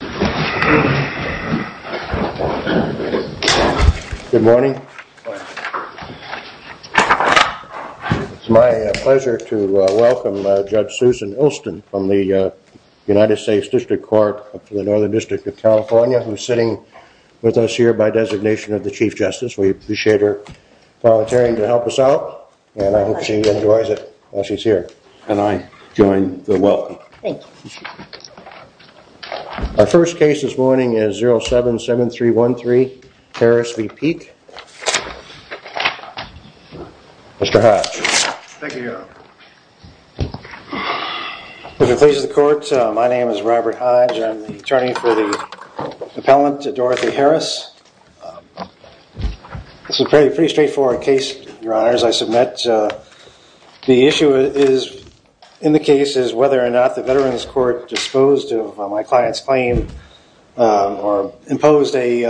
It's my pleasure to welcome Judge Susan Ilston from the United States District Court of the Northern District of California who is sitting with us here by designation of the Chief Justice. We appreciate her volunteering to help us out and I hope she enjoys it while she's here and I join the welcome. Our first case this morning is 077313 Harris v. Peek. Mr. Hodge. Thank you, Your Honor. Good day to the court. My name is Robert Hodge. I'm the attorney for the appellant Dorothy Harris. This is a pretty straightforward case, Your Honor, as I submit. The issue is in the case is whether or not the Veterans Court disposed of my client's claim or imposed a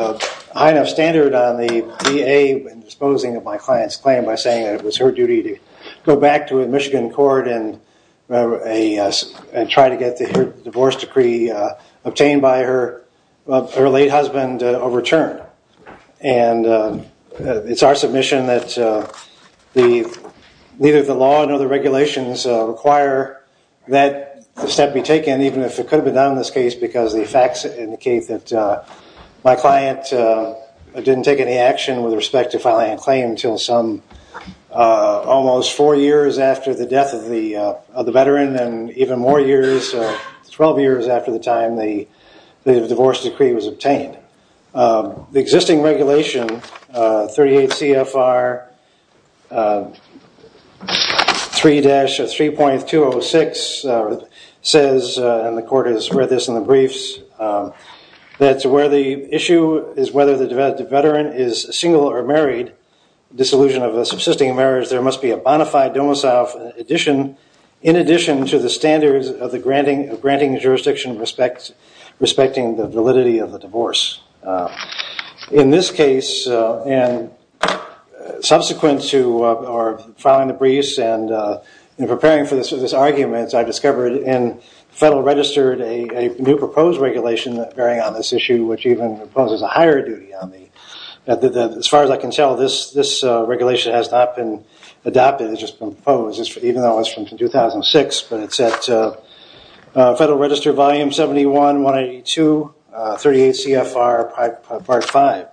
high enough standard on the DA in disposing of my client's claim by saying it was her duty to go back to a Michigan court and try to get the divorce decree obtained by her late husband overturned. It's our submission that neither the law nor the regulations require that step be taken even if it could have been done in this case because the facts indicate that my client didn't take any action with respect to filing a claim until almost four years after the death of the Veteran and even more years, 12 years after the time the divorce decree was obtained. The existing regulation 38 CFR 3-3.206 says, and the court has read this in the briefs, that to where the issue is whether the Veteran is single or married, disillusion of a subsisting marriage, there must be a bona fide domicile in addition to the standards of granting the jurisdiction respecting the validity of the divorce. In this case, and subsequent to filing the briefs and preparing for this argument, I discovered in Federal Registered a new proposed regulation bearing on this issue which even imposes a higher duty on me. As far as I can tell, this regulation has not been adopted, it's just been proposed, even though it's from 2006, but it's at Federal Registered Volume 71, 182, 38 CFR Part 5.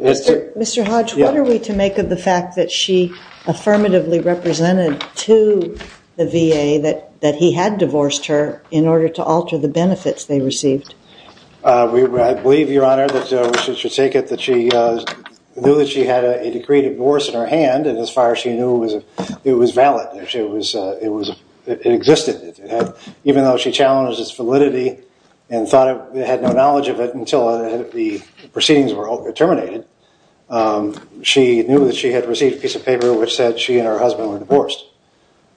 Mr. Hodge, what are we to make of the fact that she affirmatively represented to the VA that he had divorced her in order to alter the benefits they received? I believe, Your Honor, that we should take it that she knew that she had a decreed divorce in her hand, and as far as she knew, it was valid, it existed. Even though she challenged its validity and had no knowledge of it until the proceedings were terminated, she knew that she had received a piece of paper which said she and her husband were divorced.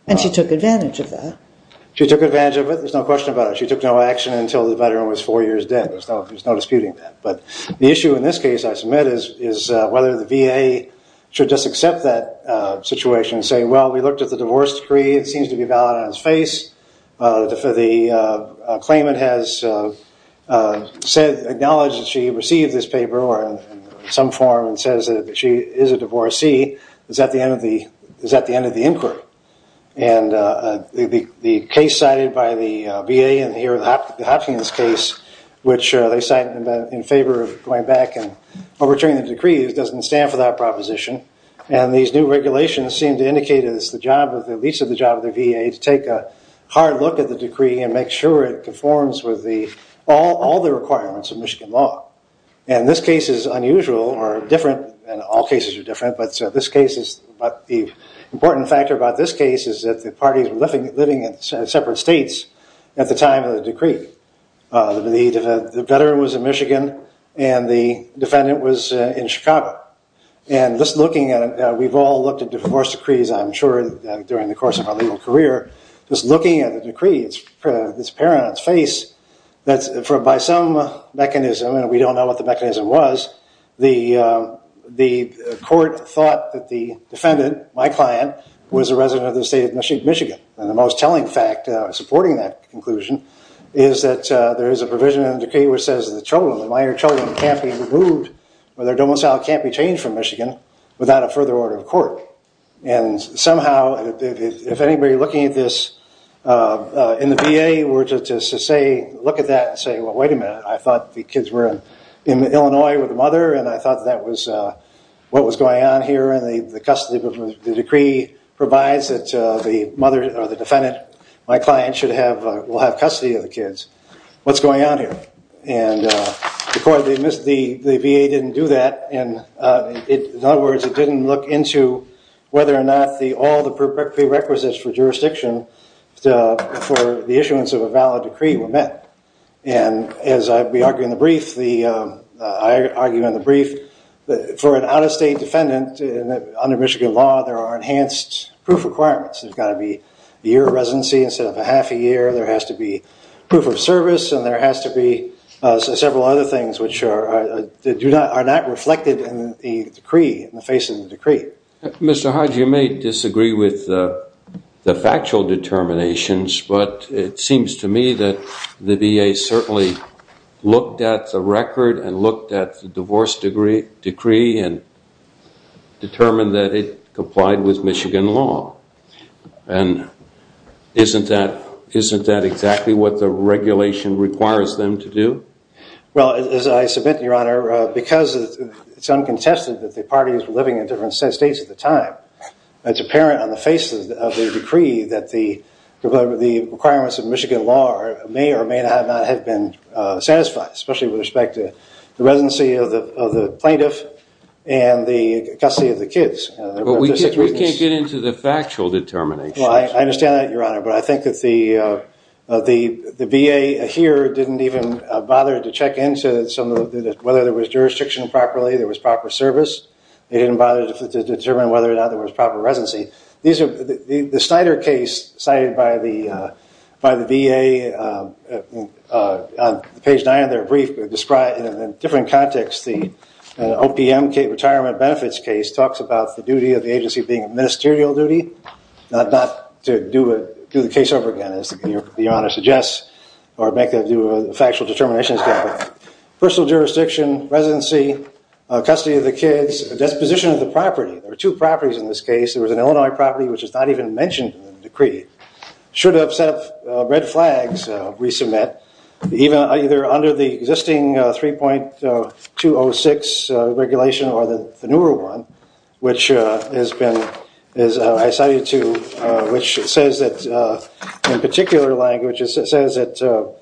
And she took advantage of that? She took advantage of it, there's no question about it. She took no action until the veteran was four years dead. There's no disputing that. But the issue in this case, I submit, is whether the VA should just accept that situation and say, well, we looked at the divorce decree, it seems to be valid on its face. The claimant has acknowledged that she received this paper or in some form says that she is a divorcee. It's at the end of the inquiry. And the case cited by the VA in the Hopkins case, which they cited in favor of going back and overturning the decree, doesn't stand for that proposition. And these new regulations seem to indicate it's the job of the VA to take a hard look at the decree and make sure it conforms with all the requirements of Michigan law. And this case is unusual or different, and all cases are different, but the important factor about this case is that the parties were living in separate states at the time of the decree. The veteran was in Michigan and the defendant was in Chicago. And just looking at it, we've all looked at divorce decrees, I'm sure, during the course of our legal career. Just looking at the decree, it's apparent on its face that by some mechanism, and we don't know what the mechanism was, the court thought that the defendant, my client, was a resident of the state of Michigan. And the most telling fact supporting that conclusion is that there is a provision in the decree which says the minor children can't be removed or their domicile can't be changed from Michigan without a further order of court. And somehow, if anybody looking at this in the VA were to look at that and say, well, wait a minute, I thought the kids were in Illinois with the mother, and I thought that was what was going on here. And the decree provides that the mother or the defendant, my client, will have custody of the kids. What's going on here? And the VA didn't do that. In other words, it didn't look into whether or not all the prerequisites for jurisdiction for the issuance of a valid decree were met. And as I argue in the brief, for an out-of-state defendant under Michigan law, there are enhanced proof requirements. There's got to be a year of residency instead of a half a year. There has to be proof of service, and there has to be several other things which are not reflected in the decree, in the face of the decree. Mr. Hodge, you may disagree with the factual determinations, but it seems to me that the VA certainly looked at the record and looked at the divorce decree and determined that it complied with Michigan law. And isn't that exactly what the regulation requires them to do? Well, as I submit, Your Honor, because it's uncontested that the parties were living in different states at the time, it's apparent on the face of the decree that the requirements of Michigan law may or may not have been satisfied, especially with respect to the residency of the plaintiff and the custody of the kids. But we can't get into the factual determinations. Well, I understand that, Your Honor, but I think that the VA here didn't even bother to check into whether there was jurisdiction properly, there was proper service. They didn't bother to determine whether or not there was proper residency. The Snyder case cited by the VA, on page nine of their brief, in different contexts, the OPM retirement benefits case talks about the duty of the agency being a ministerial duty, not to do the case over again, as Your Honor suggests, or make a factual determination. Personal jurisdiction, residency, custody of the kids, disposition of the property. There were two properties in this case. There was an Illinois property, which is not even mentioned in the decree, should have set up red flags, resubmit, either under the existing 3.206 regulation or the newer one, which says in particular language, it says that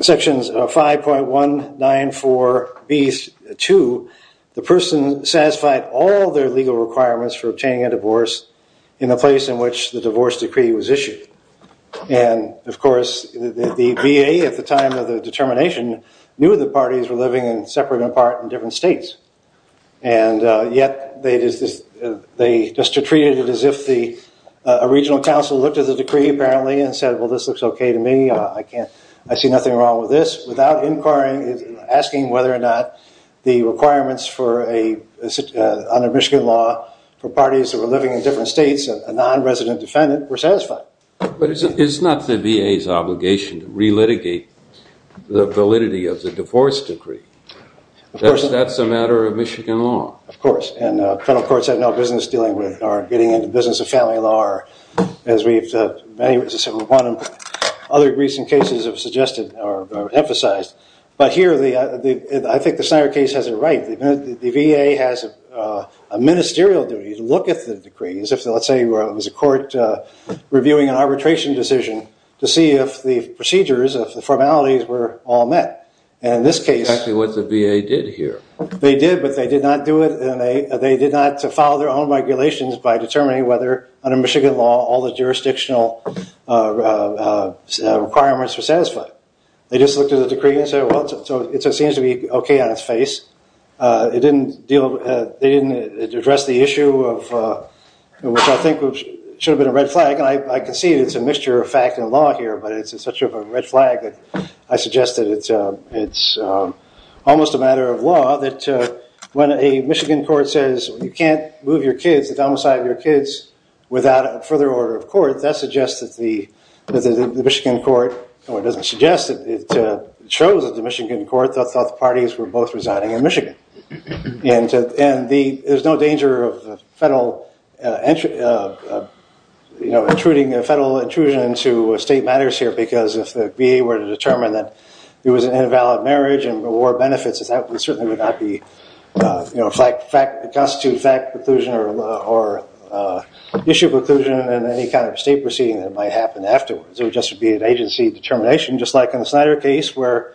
sections 5.194B2, the person satisfied all their legal requirements for obtaining a divorce in the place in which the divorce decree was issued. And, of course, the VA at the time of the determination knew the parties were living separate and apart in different states. And yet, they just treated it as if a regional council looked at the decree, apparently, and said, well, this looks okay to me. I see nothing wrong with this, without inquiring, asking whether or not the requirements under Michigan law for parties that were living in different states, a non-resident defendant, were satisfied. But it's not the VA's obligation to re-litigate the validity of the divorce decree. That's a matter of Michigan law. Of course, and federal courts have no business dealing with, or getting into the business of family law, or as we've, many of the recent cases have suggested, or emphasized. But here, I think the Snyder case has it right. The VA has a ministerial duty to look at the decrees. Let's say it was a court reviewing an arbitration decision to see if the procedures, if the formalities were all met. And in this case- Exactly what the VA did here. They did, but they did not do it, and they did not follow their own regulations by determining whether, under Michigan law, all the jurisdictional requirements were satisfied. They just looked at the decree and said, well, it seems to be okay on its face. It didn't deal, they didn't address the issue of, which I think should have been a red flag. I can see it's a mixture of fact and law here, but it's such a red flag that I suggest that it's almost a matter of law that when a Michigan court says, you can't move your kids, the domicile of your kids, without a further order of court, that suggests that the Michigan court, or it doesn't suggest it, it shows that the Michigan court thought the parties were both resigning in Michigan. And there's no danger of federal intrusion into state matters here, because if the VA were to determine that it was an invalid marriage and reward benefits, that certainly would not constitute fact preclusion or issue preclusion in any kind of state proceeding that might happen afterwards. It would just be an agency determination, just like in the Snyder case, where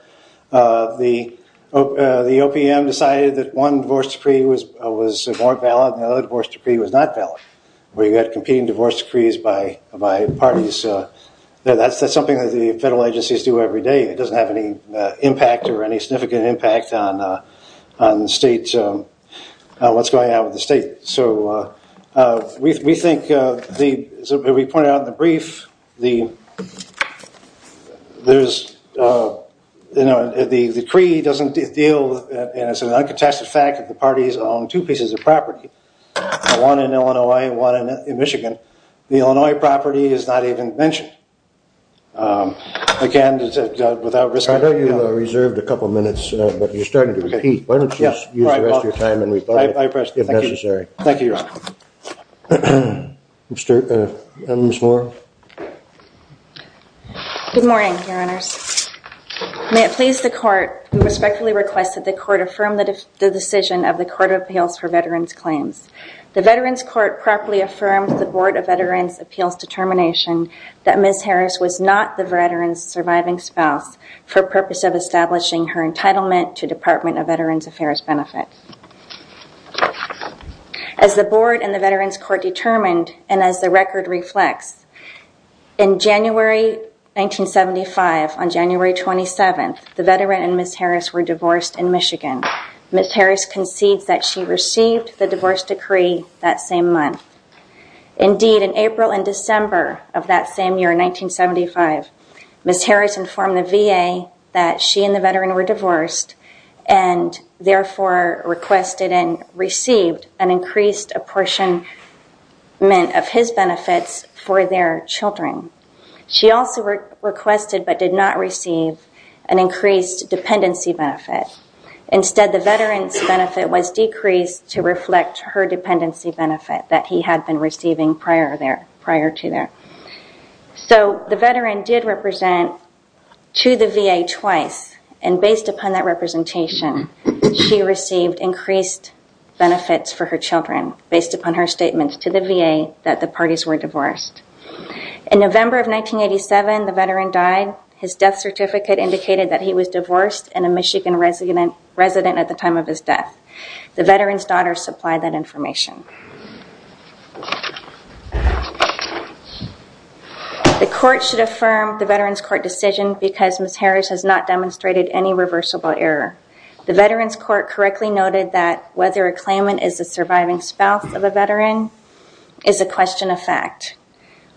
the OPM decided that one divorce decree was more valid, and the other divorce decree was not valid, where you had competing divorce decrees by parties. That's something that the federal agencies do every day. It doesn't have any impact or any significant impact on the state, what's going on with the state. So we think, as we pointed out in the brief, the decree doesn't deal, and it's an uncontested fact that the parties own two pieces of property, one in Illinois and one in Michigan. The Illinois property is not even mentioned. Again, without risk of... I thought you reserved a couple minutes, but you're starting to repeat. Why don't you use the rest of your time and reply if necessary. Thank you, Your Honor. Ms. Moore. Good morning, Your Honors. May it please the Court, we respectfully request that the Court affirm the decision of the Court of Appeals for Veterans Claims. The Veterans Court properly affirmed the Board of Veterans Appeals determination that Ms. Harris was not the veteran's surviving spouse for purpose of establishing her entitlement to Department of Veterans Affairs benefits. As the Board and the Veterans Court determined and as the record reflects, in January 1975, on January 27th, the veteran and Ms. Harris were divorced in Michigan. Ms. Harris concedes that she received the divorce decree that same month. Indeed, in April and December of that same year, 1975, Ms. Harris informed the VA that she and the veteran were divorced and therefore requested and received an increased apportionment of his benefits for their children. She also requested but did not receive an increased dependency benefit. Instead, the veteran's benefit was decreased to reflect her dependency benefit that he had been receiving prior to that. So the veteran did represent to the VA twice and based upon that representation, she received increased benefits for her children based upon her statement to the VA that the parties were divorced. In November of 1987, the veteran died. His death certificate indicated that he was divorced and a Michigan resident at the time of his death. The veteran's daughter supplied that information. The court should affirm the Veterans Court decision because Ms. Harris has not demonstrated any reversible error. The Veterans Court correctly noted that whether a claimant is a surviving spouse of a veteran is a question of fact.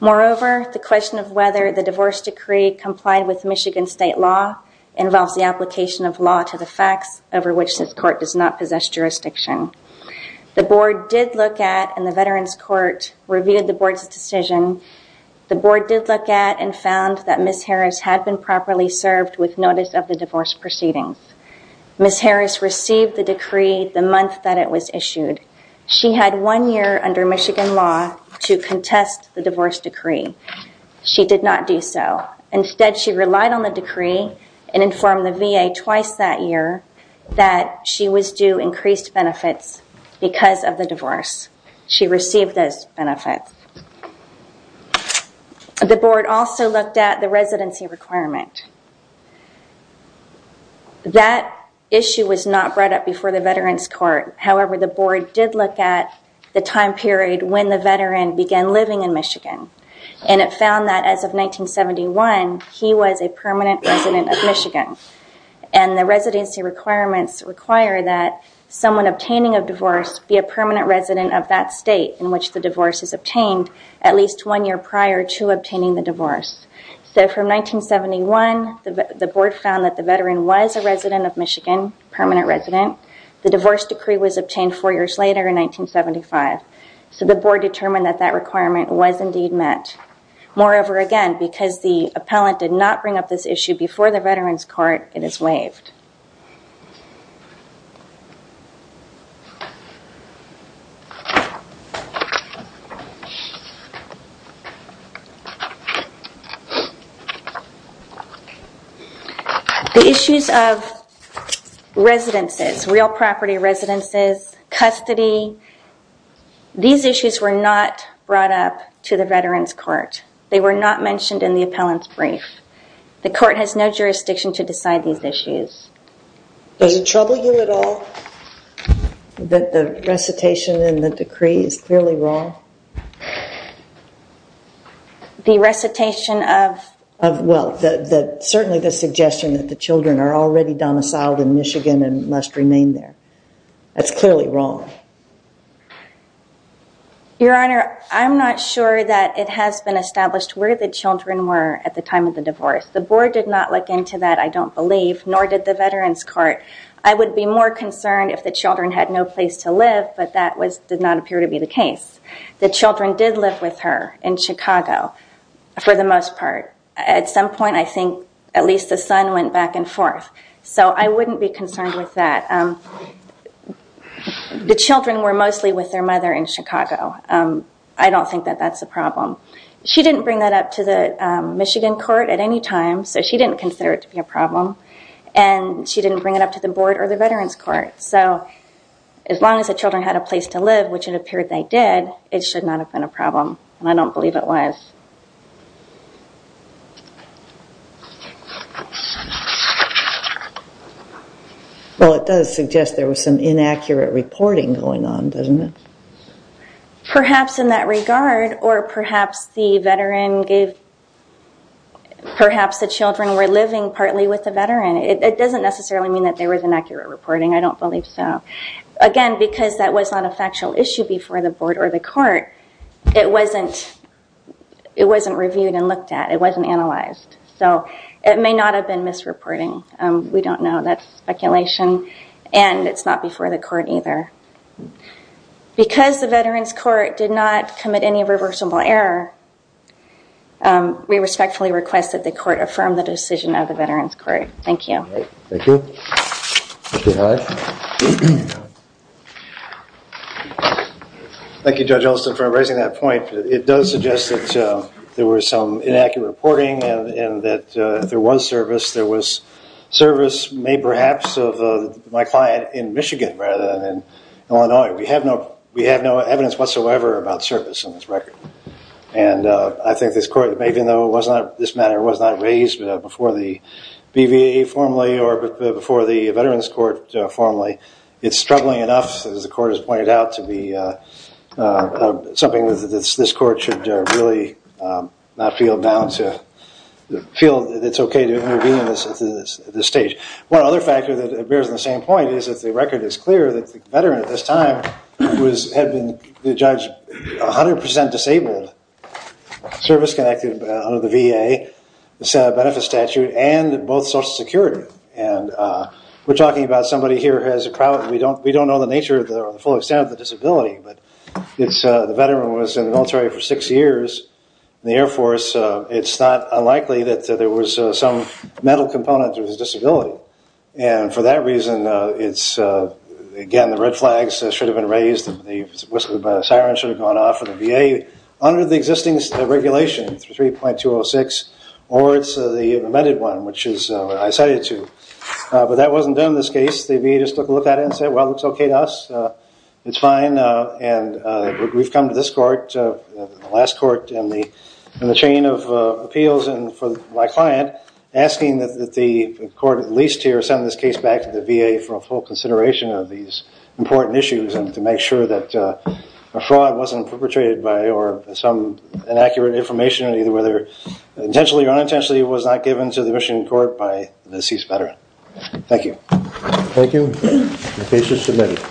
Moreover, the question of whether the divorce decree complied with Michigan state law involves the application of law to the facts over which this court does not possess jurisdiction. The board did look at and the Veterans Court reviewed the board's decision. The board did look at and found that Ms. Harris had been properly served with notice of the divorce proceedings. Ms. Harris received the decree the month that it was issued. She had one year under Michigan law to contest the divorce decree. She did not do so. Instead, she relied on the decree and informed the VA twice that year that she was due increased benefits because of the divorce. She received those benefits. The board also looked at the residency requirement. That issue was not brought up before the Veterans Court. However, the board did look at the time period when the veteran began living in Michigan. It found that as of 1971, he was a permanent resident of Michigan. The residency requirements require that someone obtaining a divorce be a permanent resident of that state in which the divorce is obtained at least one year prior to obtaining the divorce. From 1971, the board found that the veteran was a resident of Michigan, permanent resident. The divorce decree was obtained four years later in 1975. So the board determined that that requirement was indeed met. Moreover, again, because the appellant did not bring up this issue before the Veterans Court, it is waived. The issues of residences, real property residences, custody, these issues were not brought up to the Veterans Court. They were not mentioned in the appellant's brief. The court has no jurisdiction to decide these issues. Does it trouble you at all that the recitation in the decree is clearly wrong? The recitation of? Well, certainly the suggestion that the children are already domiciled in Michigan and must remain there. That's clearly wrong. Your Honor, I'm not sure that it has been established where the children were at the time of the divorce. The board did not look into that, I don't believe, nor did the Veterans Court. I would be more concerned if the children had no place to live, but that did not appear to be the case. The children did live with her in Chicago for the most part. At some point, I think, at least the son went back and forth. So I wouldn't be concerned with that. The children were mostly with their mother in Chicago. I don't think that that's a problem. She didn't bring that up to the Michigan court at any time, so she didn't consider it to be a problem. And she didn't bring it up to the board or the Veterans Court. So as long as the children had a place to live, which it appeared they did, it should not have been a problem. And I don't believe it was. Well, it does suggest there was some inaccurate reporting going on, doesn't it? Perhaps in that regard, or perhaps the children were living partly with the veteran. It doesn't necessarily mean that there was inaccurate reporting, I don't believe so. Again, because that was not a factual issue before the board or the court, it wasn't reviewed and looked at. It wasn't analysed. So it may not have been misreporting. We don't know. That's speculation. And it's not before the court either. Because the Veterans Court did not commit any reversible error, we respectfully request that the court affirm the decision of the Veterans Court. Thank you. Thank you. Thank you, Judge Elston, for raising that point. It does suggest that there was some inaccurate reporting and that there was service. Service may perhaps of my client in Michigan rather than in Illinois. We have no evidence whatsoever about service on this record. And I think this matter was not raised before the BVA formally or before the Veterans Court formally. It's struggling enough, as the court has pointed out, to be something that this court should really not feel bound to feel that it's okay to intervene at this stage. One other factor that bears the same point is that the record is clear that the veteran at this time had been, the judge, 100% disabled. Service connected under the VA. It's a benefit statute. And both social security. And we're talking about somebody here who has a problem. We don't know the nature or the full extent of the disability. But the veteran was in the military for six years. In the Air Force, it's not unlikely that there was some mental component to his disability. And for that reason, it's, again, the red flags should have been raised. The whistle and siren should have gone off for the VA. Under the existing regulation, 3.206, or it's the amended one, which is what I cited to. But that wasn't done in this case. The VA just took a look at it and said, well, it's okay to us. It's fine. And we've come to this court, the last court in the chain of appeals, and for my client, asking that the court at least here send this case back to the VA for a full consideration of these important issues and to make sure that a fraud wasn't perpetrated by or some inaccurate information, either whether intentionally or unintentionally, was not given to the Michigan court by the deceased veteran. Thank you. Thank you. The case is submitted.